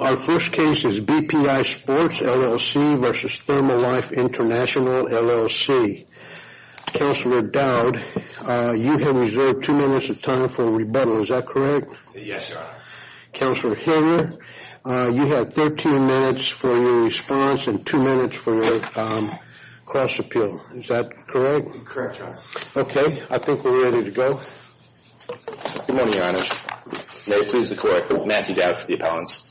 Our first case is BPI Sports, LLC v. ThermoLife International, LLC. Counselor Dowd, you have reserved two minutes of time for rebuttal, is that correct? Yes, Your Honor. Counselor Hilliard, you have 13 minutes for your response and two minutes for cross-appeal. Is that correct? Correct, Your Honor. Okay, I think we're ready to go. Good morning, Your Honor. May it please the Court, Matthew Dowd for the appellants.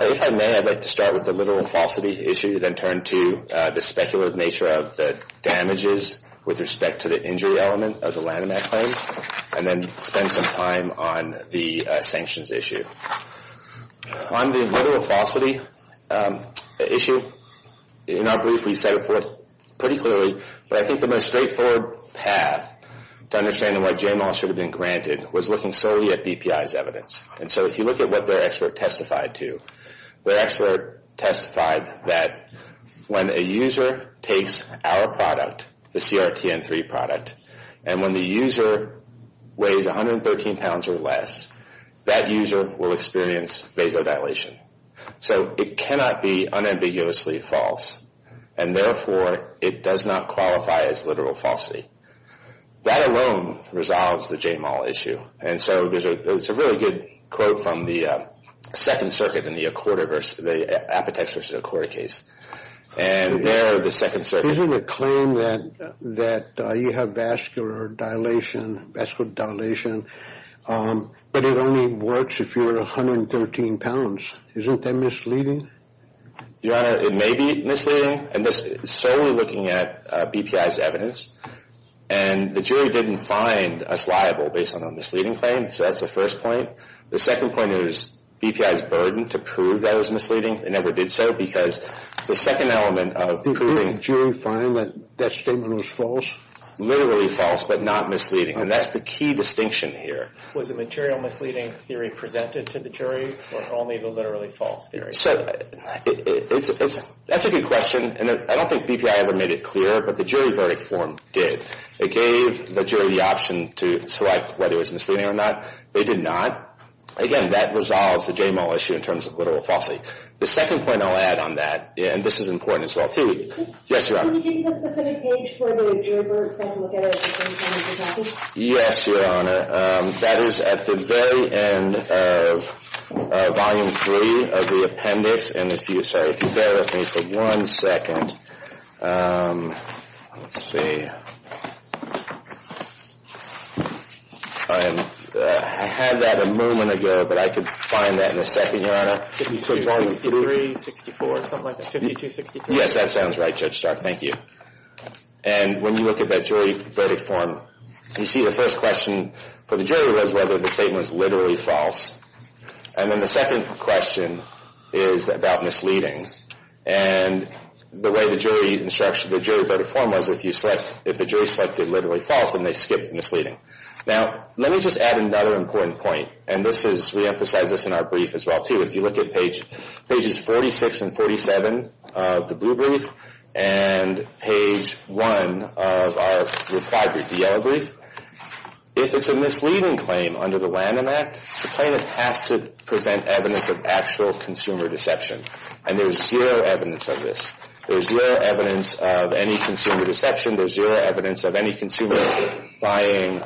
If I may, I'd like to start with the literal falsity issue, then turn to the speculative nature of the damages with respect to the injury element of the Lanham Act claim, and then spend some time on the sanctions issue. On the literal falsity issue, in our brief we set it forth pretty clearly, but I think the most straightforward path to understand why J-Mal should have been granted was looking solely at BPI's evidence. If you look at what their expert testified to, their expert testified that when a user takes our product, the CRTN3 product, and when the user weighs 113 pounds or less, that user will experience vasodilation. So it cannot be unambiguously false, and therefore it does not qualify as literal falsity. That alone resolves the J-Mal issue. And so there's a really good quote from the Second Circuit in the Apotex v. Accord case, and there the Second Circuit... The claim that you have vascular dilation, but it only works if you're 113 pounds, isn't that misleading? Your Honor, it may be misleading, and this is solely looking at BPI's evidence. And the jury didn't find us liable based on a misleading claim, so that's the first point. The second point is BPI's burden to prove that it was misleading, they never did so, because the second element of proving... Did the jury find that that statement was false? Literally false, but not misleading, and that's the key distinction here. Was the material misleading theory presented to the jury, or only the literally false theory? So that's a good question, and I don't think BPI ever made it clear, but the jury verdict form did. It gave the jury the option to select whether it was misleading or not. They did not. Again, that resolves the J-Mal issue in terms of literal falsity. The second point I'll add on that, and this is important as well too... Yes, Your Honor. Can you give me the specific page where the jury verdict form will get it? Yes, Your Honor. That is at the very end of Volume 3 of the appendix, and if you bear with me for one second... Let's see... I had that a moment ago, but I could find that in a second, Your Honor. 52-63-64, something like that. 52-63-64. Yes, that sounds right, Judge Stark. Thank you. And when you look at that jury verdict form, you see the first question for the jury was whether the statement was literally false, and then the second question is about misleading. And the way the jury instruction... The jury verdict form was if you select... If the jury selected literally false, then they skipped the misleading. Now, let me just add another important point, and this is... We emphasize this in our brief as well too. If you look at pages 46 and 47 of the blue brief and page 1 of our reply brief, the yellow brief, if it's a misleading claim under the Lanham Act, the plaintiff has to present evidence of actual consumer deception, and there's zero evidence of this. There's zero evidence of any consumer deception. There's zero evidence of any consumer buying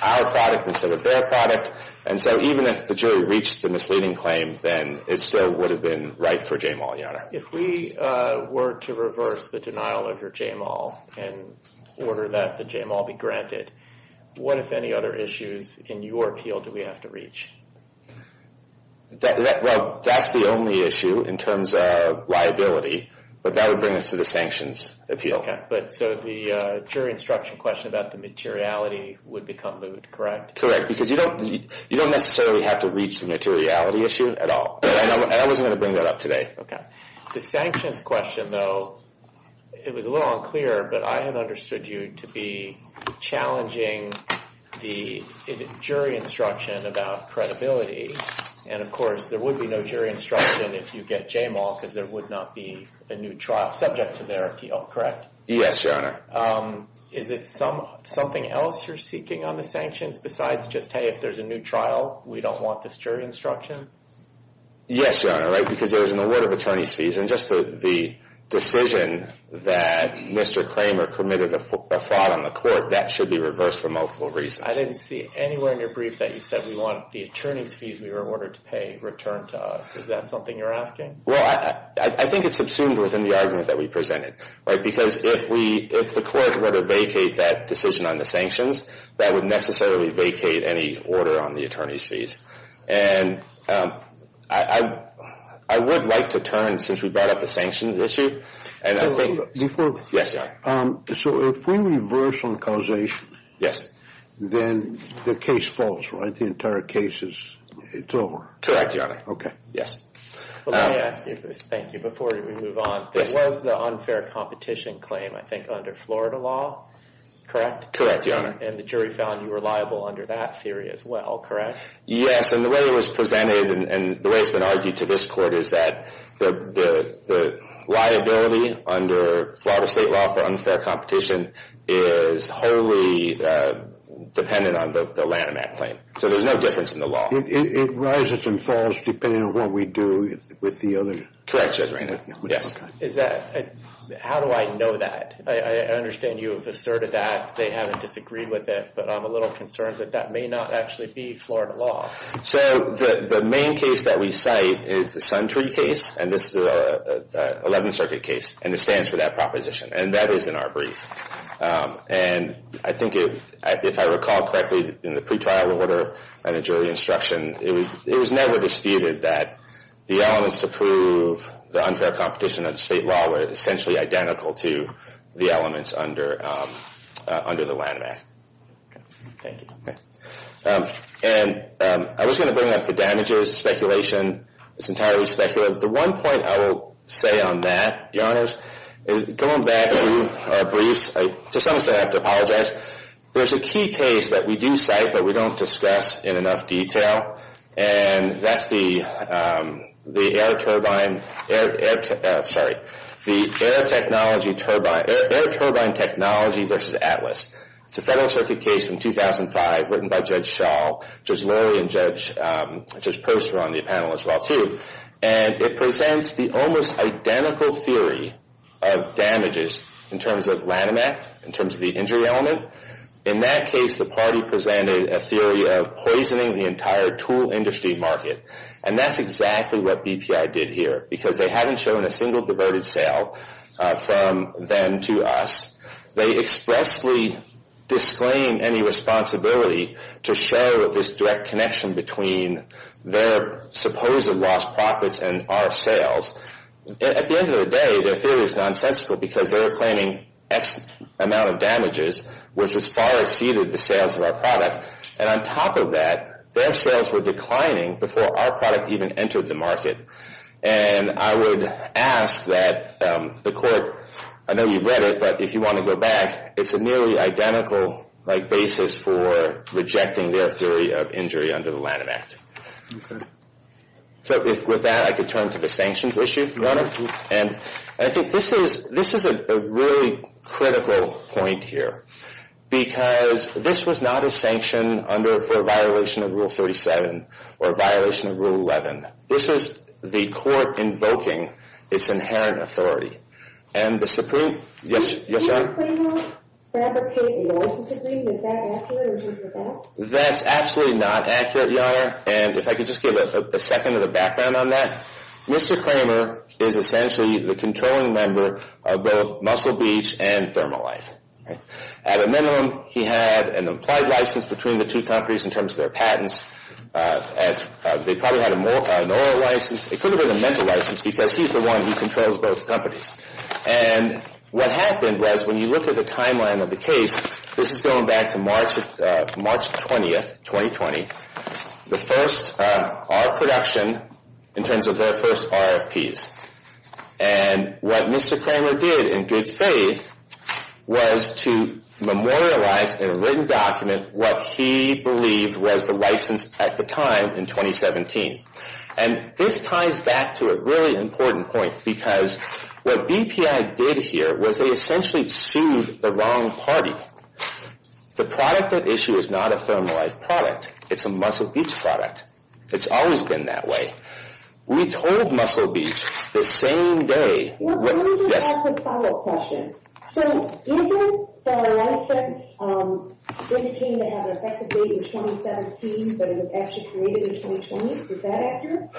our product instead of their product. And so even if the jury reached the misleading claim, then it still would have been right for J-Mall, Your Honor. If we were to reverse the denial of your J-Mall and order that the J-Mall be granted, what, if any, other issues in your appeal do we have to reach? Well, that's the only issue in terms of liability, but that would bring us to the sanctions appeal. So the jury instruction question about the materiality would become lewd, correct? Correct. Because you don't necessarily have to reach the materiality issue at all. And I wasn't going to bring that up today. Okay. The sanctions question, though, it was a little unclear, but I had understood you to be challenging the jury instruction about credibility. And of course, there would be no jury instruction if you get J-Mall because there would not be a new trial subject to their appeal, correct? Yes, Your Honor. Is it something else you're seeking on the sanctions besides just, hey, if there's a new trial, we don't want this jury instruction? Yes, Your Honor, right? Because there is an award of attorney's fees. And just the decision that Mr. Kramer committed a fraud on the court, that should be reversed for multiple reasons. I didn't see anywhere in your brief that you said we want the attorney's fees we were ordered to pay returned to us. Is that something you're asking? Well, I think it's subsumed within the argument that we presented, right? Because if we, if the court were to vacate that decision on the sanctions, that would necessarily vacate any order on the attorney's fees. And I would like to turn, since we brought up the sanctions issue. Yes, Your Honor. So if we reverse on causation, then the case falls, right? The entire case is, it's over. Correct, Your Honor. Okay. Yes. Well, let me ask you this, thank you, before we move on. There was the unfair competition claim, I think under Florida law, correct? Correct, Your Honor. And the jury found you were liable under that theory as well, correct? Yes. And the way it was presented and the way it's been argued to this court is that the liability under Florida state law for unfair competition is wholly dependent on the Lanham Act claim. So there's no difference in the law. It rises and falls depending on what we do with the other. Correct, Judge Reynolds. Yes. Is that, how do I know that? I understand you have asserted that they haven't disagreed with it. But I'm a little concerned that that may not actually be Florida law. So the main case that we cite is the Sun Tree case. And this is a 11th Circuit case. And it stands for that proposition. And that is in our brief. And I think if I recall correctly, in the pre-trial order and the jury instruction, it was never disputed that the elements to prove the unfair competition under state law were essentially identical to the elements under the Lanham Act. Thank you. And I was going to bring up the damages. Speculation. It's entirely speculative. The one point I will say on that, Your Honors, is going back to briefs, I just honestly have to apologize. There's a key case that we do cite, but we don't discuss in enough detail. And that's the air turbine, sorry, the air technology turbine, air turbine technology versus ATLAS. It's a Federal Circuit case from 2005 written by Judge Schall, which is Lori and Judge Perser on the panel as well, too. And it presents the almost identical theory of damages in terms of Lanham Act, in terms of the injury element. In that case, the party presented a theory of poisoning the entire tool industry market. And that's exactly what BPI did here, because they haven't shown a single diverted sale from them to us. They expressly disclaim any responsibility to show this direct connection between their supposed lost profits and our sales. At the end of the day, their theory is nonsensical, because they're claiming X amount of damages, which is far exceeded the sales of our product. And on top of that, their sales were declining before our product even entered the market. And I would ask that the court, I know you've read it, but if you want to go back, it's a nearly identical basis for rejecting their theory of injury under the Lanham Act. So with that, I could turn to the sanctions issue, Your Honor. And I think this is a really critical point here, because this was not a sanction for a violation of Rule 37 or a violation of Rule 11. This is the court invoking its inherent authority. And the Supreme Court... Yes, ma'am? Did Mr. Kramer fabricate the license agreement? Is that accurate, or did you forget? That's absolutely not accurate, Your Honor. And if I could just give a second of the background on that. Mr. Kramer is essentially the controlling member of both Muscle Beach and Thermolife. At a minimum, he had an implied license between the two companies in terms of their patents. They probably had an oral license. It could have been a mental license, because he's the one who controls both companies. And what happened was, when you look at the timeline of the case, this is going back to March 20th, 2020. The first R production in terms of their first RFPs. And what Mr. Kramer did, in good faith, was to memorialize in a written document what he believed was the license at the time in 2017. And this ties back to a really important point, because what BPI did here was they essentially sued the wrong party. The product at issue is not a Thermolife product. It's a Muscle Beach product. It's always been that way. We told Muscle Beach the same day... Well, let me just ask a follow-up question. So, isn't the license indicating they had an effective date in 2017, but it was actually created in 2020? Is that accurate?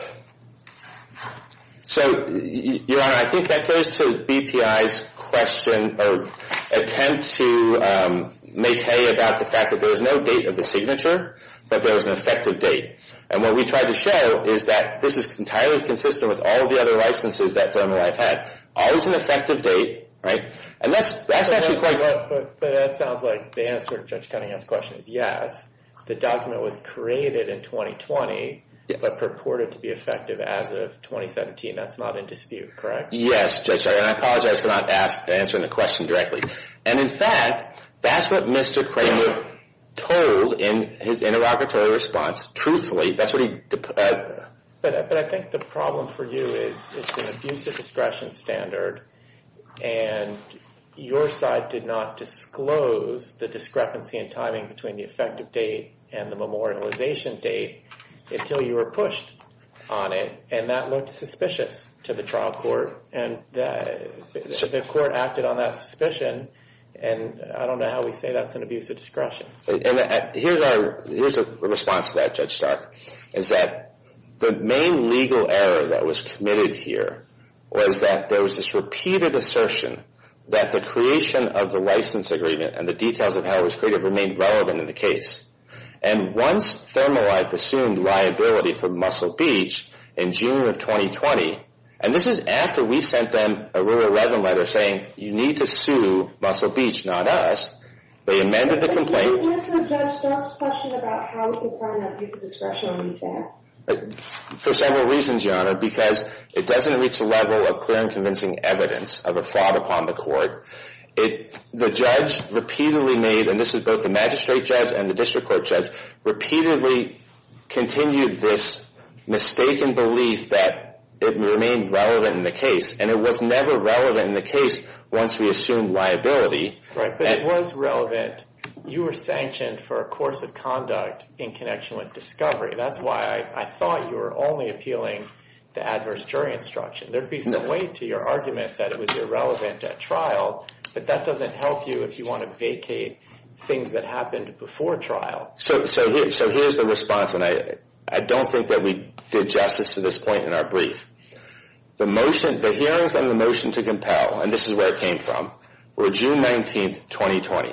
So, Your Honor, I think that goes to BPI's question, or attempt to make hay about the fact that there is no date of the signature. But there was an effective date. And what we tried to show is that this is entirely consistent with all the other licenses that Thermolife had. Always an effective date, right? And that's actually quite... But that sounds like the answer to Judge Cunningham's question is yes. The document was created in 2020, but purported to be effective as of 2017. That's not in dispute, correct? Yes, Judge, and I apologize for not answering the question directly. And in fact, that's what Mr. Kramer told in his interrogatory response. Truthfully, that's what he... But I think the problem for you is it's an abusive discretion standard. And your side did not disclose the discrepancy in timing between the effective date and the memorialization date until you were pushed on it. And that looked suspicious to the trial court. And the court acted on that suspicion. And I don't know how we say that's an abusive discretion. And here's a response to that, Judge Stark, is that the main legal error that was committed here was that there was this repeated assertion that the creation of the license agreement and the details of how it was created remained relevant in the case. And once Thermolife assumed liability for Muscle Beach in June of 2020, and this is after we sent them a Rule 11 letter saying, you need to sue Muscle Beach, not us, they amended the complaint... Can you answer Judge Stark's question about how it's a part of that abusive discretion? For several reasons, Your Honor, because it doesn't reach a level of clear and convincing evidence of a fraud upon the court. The judge repeatedly made, and this is both the magistrate judge and the district court judge, repeatedly continued this mistaken belief that it remained relevant in the case. And it was never relevant in the case once we assumed liability. Right, but it was relevant. You were sanctioned for a course of conduct in connection with discovery. That's why I thought you were only appealing the adverse jury instruction. There'd be some weight to your argument that it was irrelevant at trial, but that doesn't help you if you want to vacate things that happened before trial. So here's the response, I don't think that we did justice to this point in our brief. The hearings and the motion to compel, and this is where it came from, were June 19th, 2020.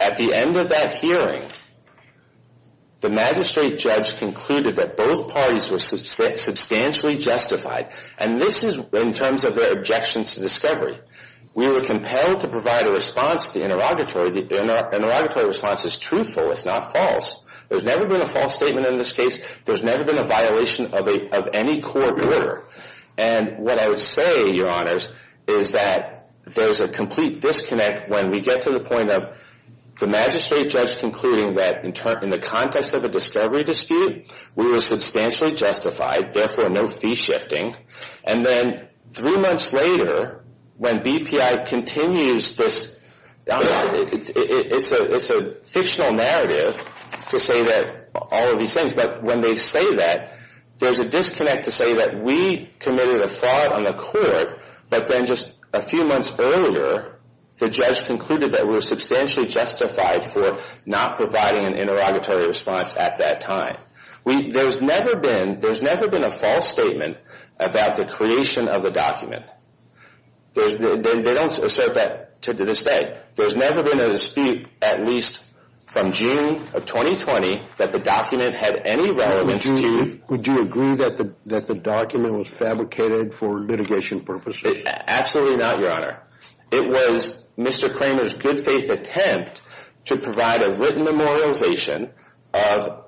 At the end of that hearing, the magistrate judge concluded that both parties were substantially justified, and this is in terms of their objections to discovery. We were compelled to provide a response to the interrogatory. The interrogatory response is truthful, it's not false. There's never been a false statement in this case. There's never been a violation of any court order. And what I would say, your honors, is that there's a complete disconnect when we get to the point of the magistrate judge concluding that in the context of a discovery dispute, we were substantially justified, therefore no fee shifting. And then three months later, when BPI continues this, it's a fictional narrative, to say that all of these things, but when they say that, there's a disconnect to say that we committed a fraud on the court, but then just a few months earlier, the judge concluded that we were substantially justified for not providing an interrogatory response at that time. There's never been a false statement about the creation of the document. They don't assert that to this day. There's never been a dispute, at least from June of 2020, that the document had any relevance to... Would you agree that the document was fabricated for litigation purposes? Absolutely not, your honor. It was Mr. Kramer's good faith attempt to provide a written memorialization of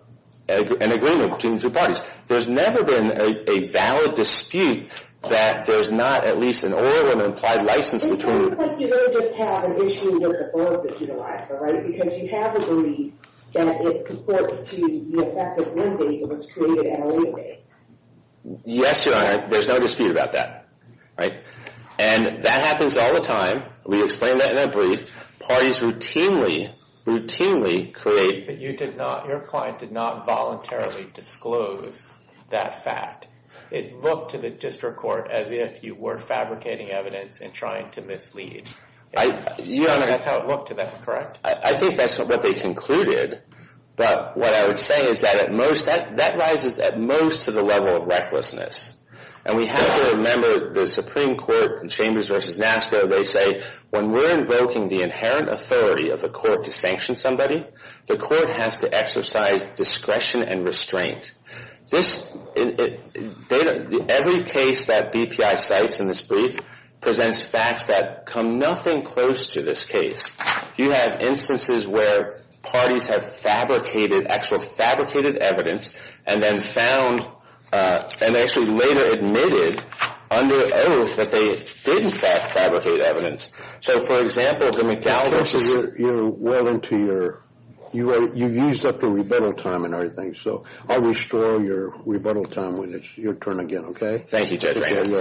an agreement between two parties. There's never been a valid dispute that there's not at least an oral and implied license between... It looks like you don't just have an issue with the oath that's utilized, all right? Because you have a belief that it supports to the effect of one thing that was created in a way. Yes, your honor. There's no dispute about that, right? And that happens all the time. We explained that in that brief. Parties routinely, routinely create... But you did not, your client did not voluntarily disclose that fact. It looked to the district court as if you were fabricating evidence and trying to mislead. Your honor... That's how it looked to them, correct? I think that's what they concluded. But what I would say is that at most, that rises at most to the level of recklessness. And we have to remember the Supreme Court Chambers versus NASCA, they say when we're invoking the inherent authority of the court to sanction somebody, the court has to exercise discretion and restraint. Every case that BPI cites in this brief presents facts that come nothing close to this case. You have instances where parties have fabricated, actually fabricated evidence and then found, and actually later admitted under oath that they did in fact fabricate evidence. So for example, the McDowell versus... You're well into your... You used up the rebuttal time and everything. So I'll restore your rebuttal time when it's your turn again, okay? Thank you, Judge Rankin.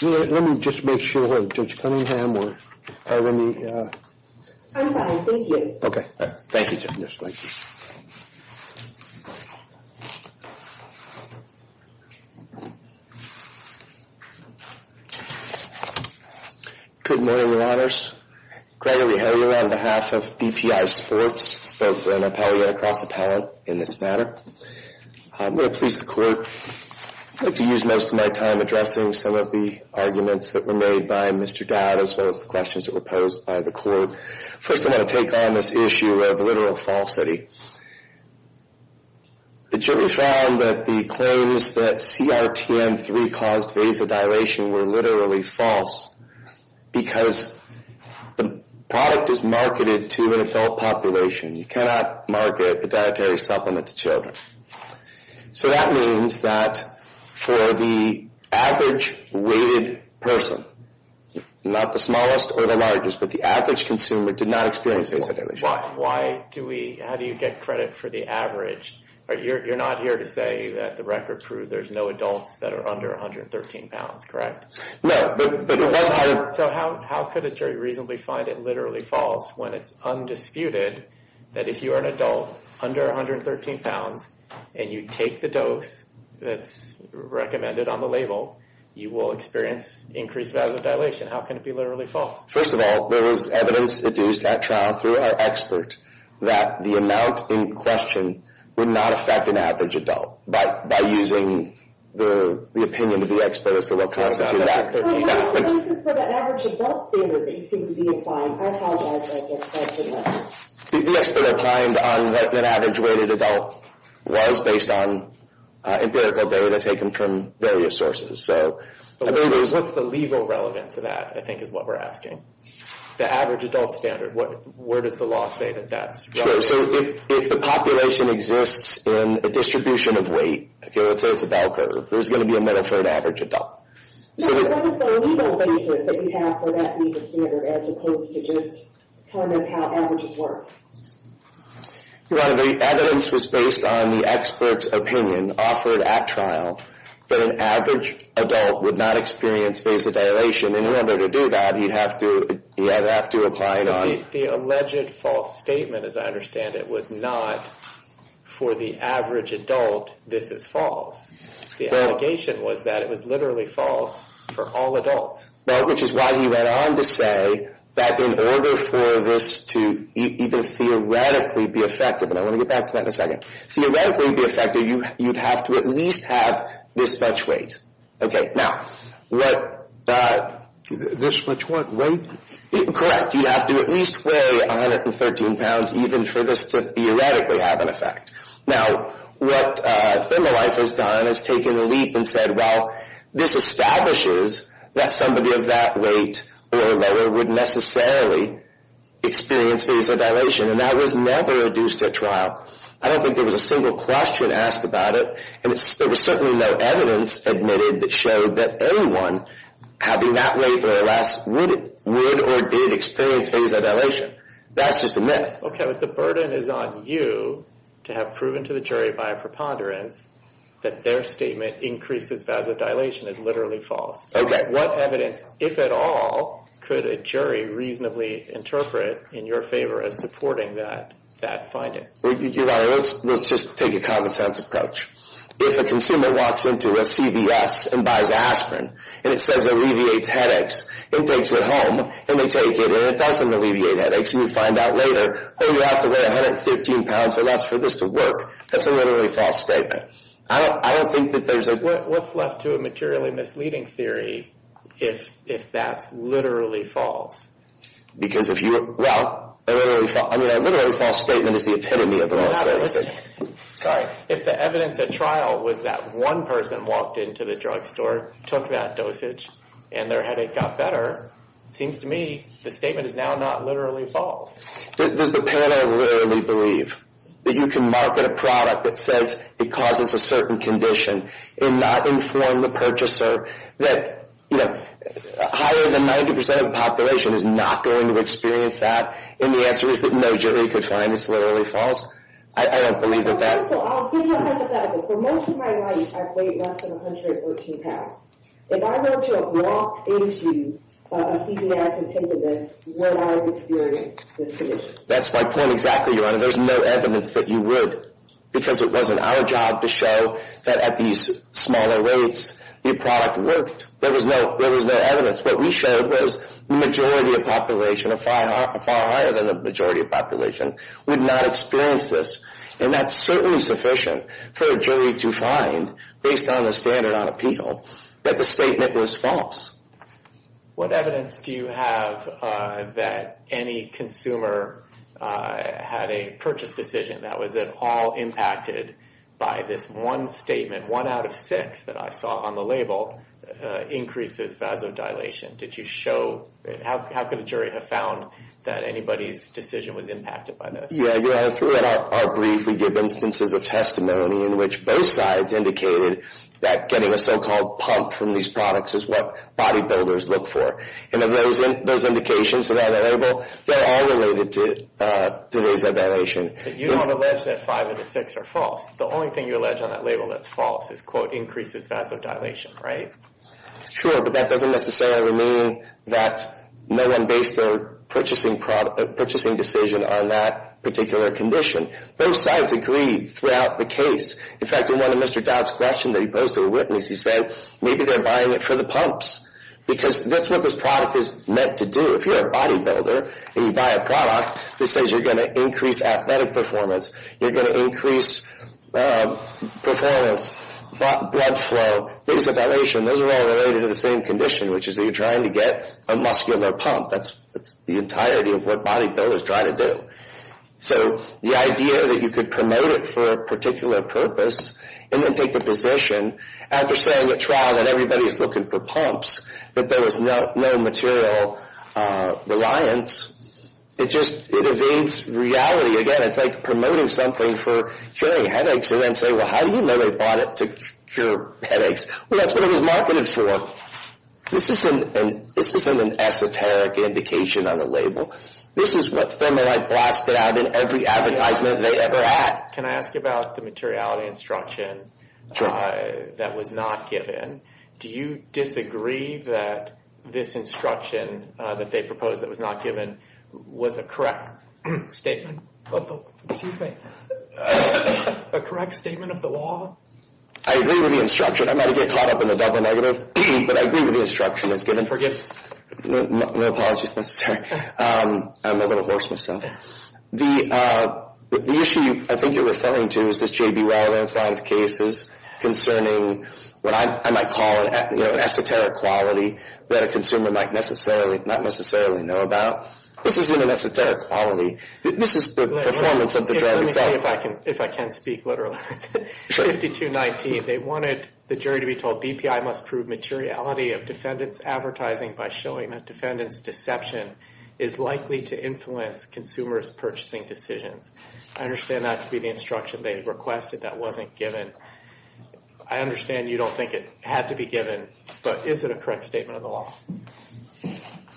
Let me just make sure that Judge Cunningham or... I'm fine, thank you. Okay, thank you, Judge Rankin. Good morning, Your Honors. Gregory Heller on behalf of BPI Sports, both an appellee and a cross-appellant in this matter. I'm really pleased the court had to use most of my time addressing some of the arguments that were made by Mr. Dowd as well as the questions that were posed by the court. First, I want to take on this issue of literal falsity. The jury found that the claims that CRTM-3 caused vasodilation were literally false because the product is marketed to an adult population. You cannot market a dietary supplement to children. So that means that for the average-weighted person, not the smallest or the largest, but the average consumer did not experience vasodilation. Why do we... How do you get credit for the average? You're not here to say that the record proves there's no adults that are under 113 pounds, correct? No, but the question... So how could a jury reasonably find it literally false when it's undisputed that if you're an adult under 113 pounds, and you take the dose that's recommended on the label, you will experience increased vasodilation? How can it be literally false? First of all, there was evidence produced at trial through our expert that the amount in question would not affect an average adult by using the opinion of the expert as to what constituted that. So the evidence for the average adult standard that you seem to be applying, I apologize, I just can't remember. The expert that climbed on that average-weighted adult was based on empirical data taken from various sources. What's the legal relevance of that, I think, is what we're asking. The average adult standard, where does the law say that that's relevant? Sure, so if the population exists in a distribution of weight, if you were to say it's a bell curve, there's going to be a metaphor to average adult. What is the legal basis that you have for that legal standard as opposed to just telling us how averages work? The evidence was based on the expert's opinion offered at trial that an average adult would not experience vasodilation, and in order to do that, he'd have to apply it on... The alleged false statement, as I understand it, was not for the average adult, this is false. The allegation was that it was literally false for all adults. Which is why he went on to say that in order for this to even theoretically be effective, and I want to get back to that in a second, theoretically be effective, you'd have to at least have this much weight. Now, what... This much what? Correct, you'd have to at least weigh 113 pounds even for this to theoretically have an effect. Now, what Thermalife has done is taken a leap and said, well, this establishes that somebody of that weight or lower would necessarily experience vasodilation, and that was never adduced at trial. I don't think there was a single question asked about it, and there was certainly no evidence admitted that showed that anyone having that weight or less would or did experience vasodilation. That's just a myth. Okay, but the burden is on you to have proven to the jury by a preponderance that their statement increases vasodilation is literally false. What evidence, if at all, could a jury reasonably interpret in your favor as supporting that finding? Let's just take a common sense approach. If a consumer walks into a CVS and buys aspirin, and it says alleviates headaches, it takes it home, and they take it, and it doesn't alleviate headaches, and you find out later, oh, you have to weigh 113 pounds or less for this to work, that's a literally false statement. I don't think that there's a... What's left to a materially misleading theory if that's literally false? Because if you... Well, a literally false statement is the epitome of a most valuable statement. Sorry, if the evidence at trial was that one person walked into the drugstore, took that dosage, and their headache got better, it seems to me the statement is now not literally false. Does the panel literally believe that you can market a product that says it causes a certain condition and not inform the purchaser that higher than 90% of the population is not going to experience that? And the answer is that no, Julie, you could find this literally false. I don't believe that that... I'll give you a hypothetical. For most of my life, I've weighed less than 113 pounds. If I were to walk into a CVS and take this, would I experience this condition? That's my point exactly, Your Honor. There's no evidence that you would, because it wasn't our job to show that at these smaller rates, the product worked. There was no evidence. What we showed was the majority of population, a far higher than the majority of population, would not experience this. And that's certainly sufficient for a jury to find, based on the standard on appeal, that the statement was false. What evidence do you have that any consumer had a purchase decision that was at all impacted by this one statement, one out of six that I saw on the label, increases vasodilation? Did you show... How could a jury have found that anybody's decision was impacted by this? Yeah, Your Honor. Through our brief, we give instances of testimony in which both sides indicated that getting a so-called pump from these products is what bodybuilders look for. And of those indications that are on the label, they're all related to vasodilation. You don't allege that five of the six are false. The only thing you allege on that label that's false is, quote, increases vasodilation, right? Sure, but that doesn't necessarily mean that no one based their purchasing decision on that particular condition. Both sides agreed throughout the case. In fact, in one of Mr. Dodd's questions that he posed to a witness, he said, maybe they're buying it for the pumps. Because that's what this product is meant to do. If you're a bodybuilder and you buy a product that says you're going to increase athletic performance, you're going to increase performance, blood flow, vasodilation, those are all related to the same condition, which is that you're trying to get a muscular pump. That's the entirety of what bodybuilders try to do. So the idea that you could promote it for a particular purpose and then take the position after saying at trial that everybody's looking for pumps, that there was no material reliance, it just evades reality. Again, it's like promoting something for curing headaches and then say, well, how do you know they bought it to cure headaches? Well, that's what it was marketed for. This isn't an esoteric indication on a label. This is what Thermolite blasted out in every advertisement they ever had. Can I ask about the materiality instruction that was not given? Do you disagree that this instruction that they proposed that was not given was a correct statement of the law? I agree with the instruction. I might get caught up in the double negative, but I agree with the instruction that's given. Forgive me, no apologies necessary. I'm a little hoarse myself. The issue I think you're referring to is this J.B. Weill landslide of cases concerning what I might call an esoteric quality that a consumer might not necessarily know about. This isn't an esoteric quality. This is the performance of the drug itself. Let me see if I can speak literally. 5219, they wanted the jury to be told BPI must prove materiality of defendant's advertising by showing that defendant's deception is likely to influence consumer's purchasing decisions. I understand that to be the instruction they requested that wasn't given. I understand you don't think it had to be given, but is it a correct statement of the law?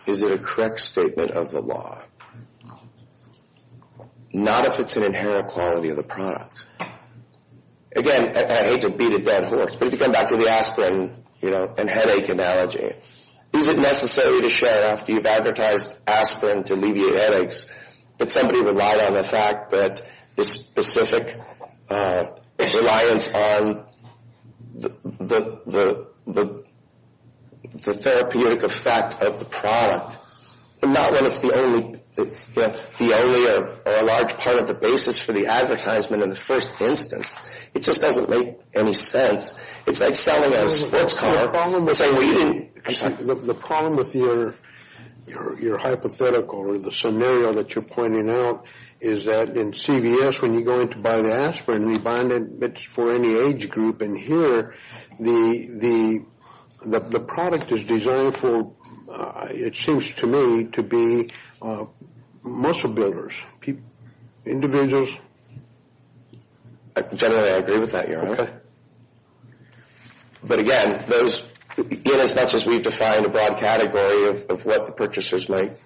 Is it a correct statement of the law? Not if it's an inherent quality of the product. Again, I hate to beat a dead horse, but if you come back to the aspirin and headache analogy, is it necessary to show after you've advertised aspirin to alleviate headaches that somebody relied on the fact that the specific reliance on the therapeutic effect of the product, but not when it's the only or a large part of the basis for the advertisement in the first instance. It just doesn't make any sense. It's like selling a sports car. The problem with your hypothetical or the scenario that you're pointing out is that in CVS, when you go in to buy the aspirin, you buy it for any age group. And here, the product is designed for, it seems to me, to be muscle builders, individuals. I generally agree with that, Your Honor. But again, as much as we've defined a broad category of what the purchasers might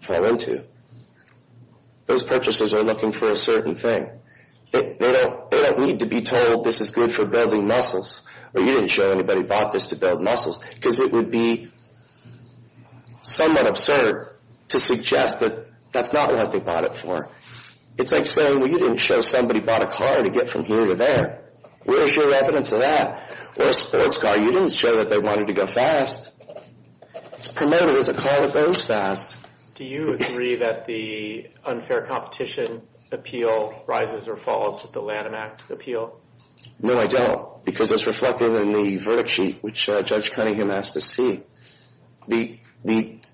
fall into, those purchasers are looking for a certain thing. They don't need to be told, this is good for building muscles, or you didn't show anybody bought this to build muscles, because it would be somewhat absurd to suggest that that's not what they bought it for. It's like saying, well, you didn't show somebody bought a car to get from here to there. Where's your evidence of that? Or a sports car, you didn't show that they wanted to go fast. It's promoted as a car that goes fast. Do you agree that the unfair competition appeal rises or falls with the Lanham Act appeal? No, I don't. Because it's reflected in the verdict sheet, which Judge Cunningham asked to see. The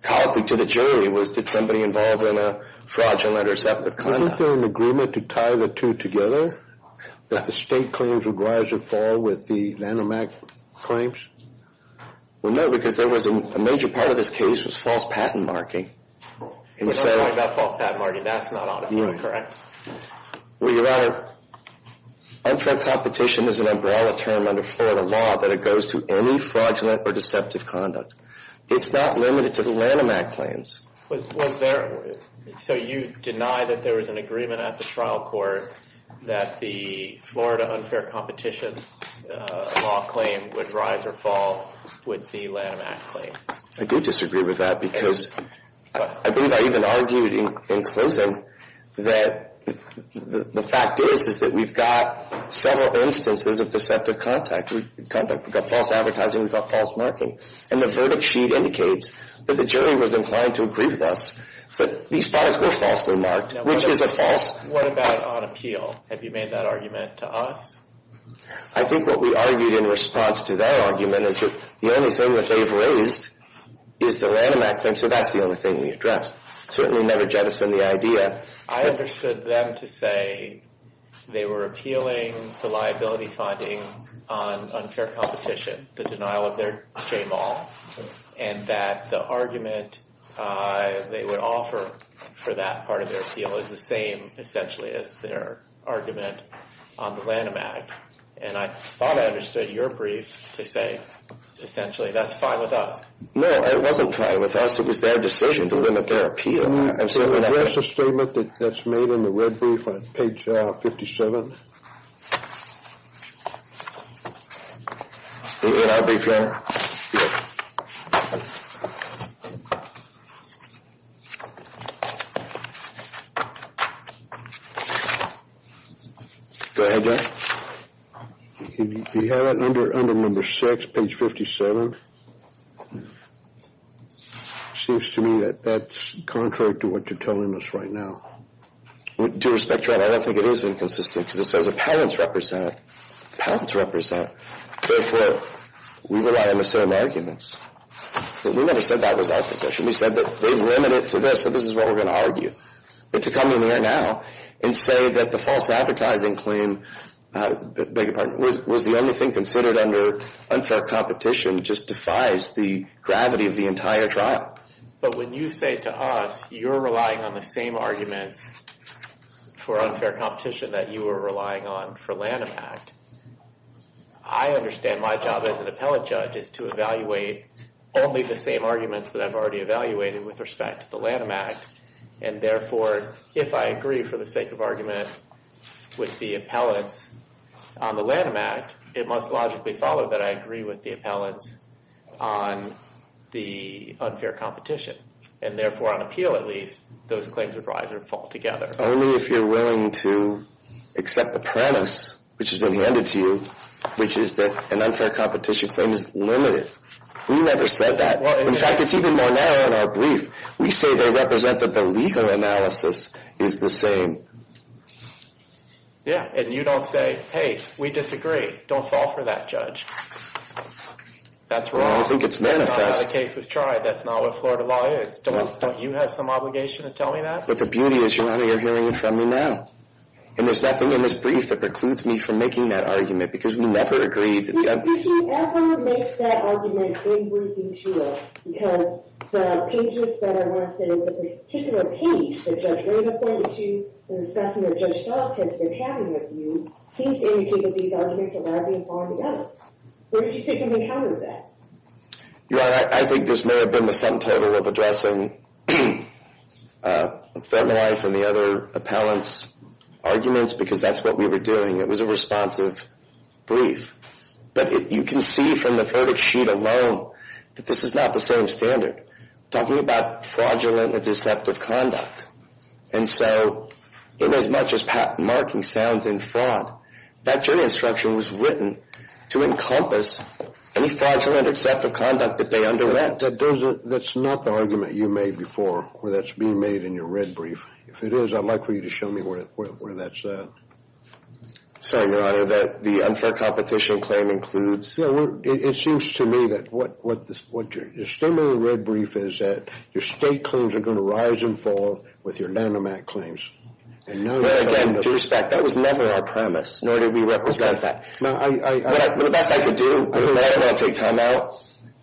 colloquy to the jury was, did somebody involved in a fraudulent or deceptive conduct? Wasn't there an agreement to tie the two together? That the state claims would rise or fall with the Lanham Act claims? Well, no, because a major part of this case was false patent marking. We're not talking about false patent marking. That's not on appeal, correct? Well, Your Honor, unfair competition is an umbrella term under Florida law that it goes to any fraudulent or deceptive conduct. It's not limited to the Lanham Act claims. So you deny that there was an agreement at the trial court that the Florida unfair competition law claim would rise or fall with the Lanham Act claim? I do disagree with that, because I believe I even argued in closing that the fact is, is that we've got several instances of deceptive conduct. We've got false advertising. We've got false marking. And the verdict sheet indicates that the jury was inclined to agree with us. But these products were falsely marked, which is a false... What about on appeal? Have you made that argument to us? I think what we argued in response to that argument is that the only thing that they've raised is the Lanham Act claim. So that's the only thing we addressed. Certainly never jettisoned the idea. I understood them to say they were appealing the liability finding on unfair competition, the denial of their JMAL, and that the argument they would offer for that part of their appeal is the same, essentially, as their argument on the Lanham Act. And I thought I understood your brief to say essentially, that's fine with us. No, it wasn't fine with us. It was their decision to limit their appeal. So address the statement that's made in the red brief on page 57. You mean my brief there? Go ahead, John. You have it under number six, page 57. Seems to me that that's contrary to what you're telling us right now. Due respect, Your Honor, I don't think it is inconsistent to the extent that parents represent. Parents represent. Therefore, we rely on the same arguments. We never said that was our position. We said that they've limited it to this, so this is what we're going to argue. But to come in here now and say that the false advertising claim beg your pardon, was the only thing considered under unfair competition just defies the gravity of the entire trial. But when you say to us, you're relying on the same arguments for unfair competition that you were relying on for Lanham Act, I understand my job as an appellate judge is to evaluate only the same arguments that I've already evaluated with respect to the Lanham Act. And therefore, if I agree for the sake of argument with the appellants on the Lanham Act, it must logically follow that I agree with the appellants on the unfair competition. And therefore, on appeal at least, those claims would rise or fall together. Only if you're willing to accept the premise, which has been handed to you, which is that an unfair competition claim is limited. We never said that. In fact, it's even more narrow in our brief. We say they represent that the legal analysis is the same. Yeah, and you don't say, hey, we disagree. Don't fall for that, judge. That's wrong. I don't think it's manifest. That's not how the case was tried. That's not what Florida law is. Don't you have some obligation to tell me that? But the beauty is you're not hearing it from me now. And there's nothing in this brief that precludes me from making that argument because we never agreed. Did you ever make that argument in briefing to us? Because the pages that I want to say, the particular page that Judge Raymond pointed to in assessing the judge's thoughts as to what's happening with you, seems to indicate that these arguments are largely falling together. Where did you sit when we encountered that? Your Honor, I think this may have been the center of addressing Fenton Life and the other appellants' arguments because that's what we were doing. It was a responsive brief. But you can see from the verdict sheet alone that this is not the same standard. Talking about fraudulent and deceptive conduct. And so, in as much as patent marking sounds in fraud, that jury instruction was written to encompass any fraudulent or deceptive conduct that they underwent. That's not the argument you made before where that's being made in your red brief. If it is, I'd like for you to show me where that's at. Sorry, Your Honor, that the unfair competition claim includes... It seems to me that what your statement in the red brief is that your state claims are going to rise and fall with your Nanomat claims. Again, due respect, that was never our premise, nor did we represent that. The best I could do, I'm not going to take time out,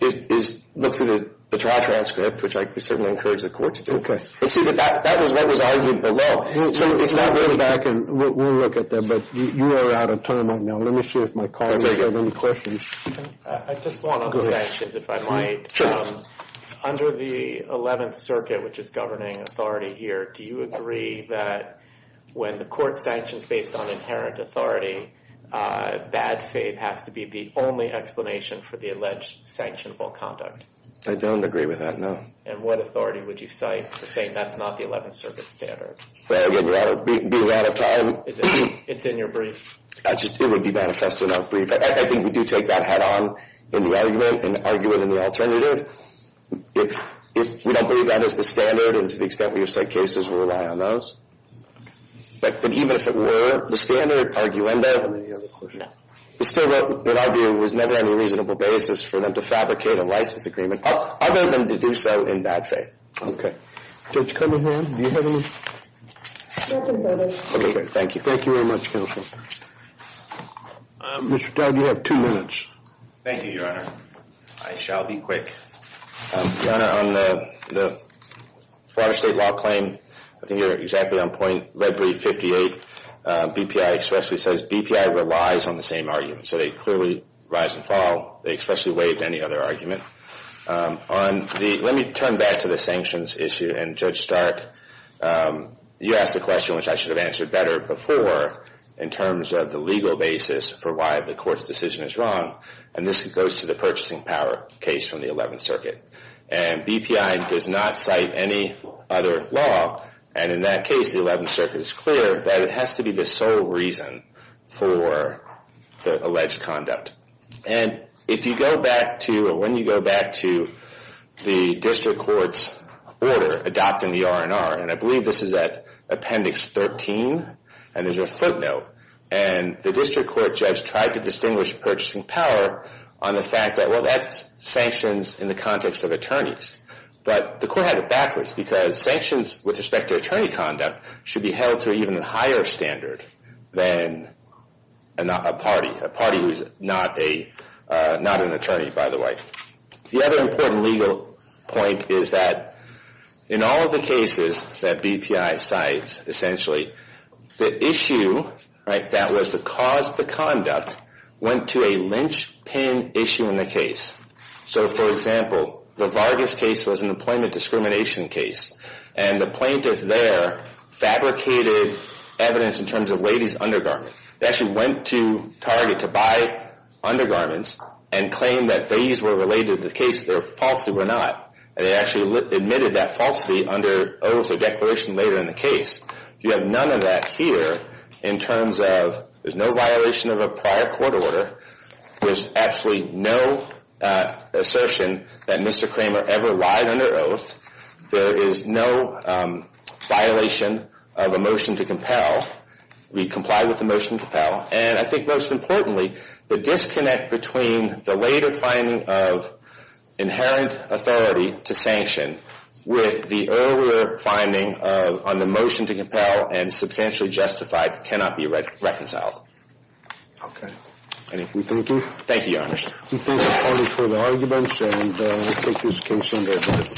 is look through the trial transcript, which I certainly encourage the court to do. But see, that was what was argued below. It's not really... Go back and we'll look at that. But you are out of time right now. Let me see if my colleagues have any questions. I just want other sanctions, if I might. Under the 11th Circuit, which is governing authority here, do you agree that when the court sanctions based on inherent authority, bad faith has to be the only explanation for the alleged sanctionable conduct? I don't agree with that, no. And what authority would you cite for saying that's not the 11th Circuit standard? I would be out of time. It's in your brief. It would be manifested in our brief. I think we do take that head-on in the argument, and argue it in the alternative. If we don't believe that is the standard, and to the extent we have cited cases, we'll rely on those. But even if it were the standard, arguendo, it's still a good idea. It was never any reasonable basis for them to fabricate a license agreement, other than to do so in bad faith. Judge Cunningham, do you have any... Okay, thank you. Thank you very much, counsel. Mr. Dowd, you have two minutes. Thank you, Your Honor. I shall be quick. Your Honor, on the Florida State law claim, I think you're exactly on point. Red brief 58, BPI expressly says BPI relies on the same argument. So they clearly rise and fall. They expressly waive any other argument. Let me turn back to the sanctions issue, and Judge Stark, you asked a question which I should have answered better before, in terms of the legal basis for why the court's decision is wrong. And this goes to the purchasing power case from the 11th Circuit. And BPI does not cite any other law. And in that case, the 11th Circuit is clear that it has to be the sole reason for the alleged conduct. And if you go back to, or when you go back to the district court's order adopting the R&R, and I believe this is at Appendix 13, and there's a footnote, and the district court judge tried to distinguish purchasing power on the fact that, well, that's sanctions in the context of attorneys. But the court had it backwards because sanctions with respect to attorney conduct should be held to an even higher standard than a party, a party who's not an attorney, by the way. The other important legal point is that in all of the cases that BPI cites, essentially, the issue, right, that was the cause of the conduct went to a linchpin issue in the case. So, for example, the Vargas case was an employment discrimination case. And the plaintiff there fabricated evidence in terms of ladies' undergarments. They actually went to Target to buy undergarments and claimed that these were related to the case, they falsely were not. And they actually admitted that falsely under oath or declaration later in the case. You have none of that here in terms of there's no violation of a prior court order. There's absolutely no assertion that Mr. Kramer ever lied under oath. There is no violation of a motion to compel. We comply with the motion to compel. And I think most importantly, the disconnect between the later finding of inherent authority to sanction with the earlier finding on the motion to compel and substantially justified cannot be reconciled. Okay. Thank you. Thank you, Your Honor. We thank the attorney for the arguments and we take this case under admonition.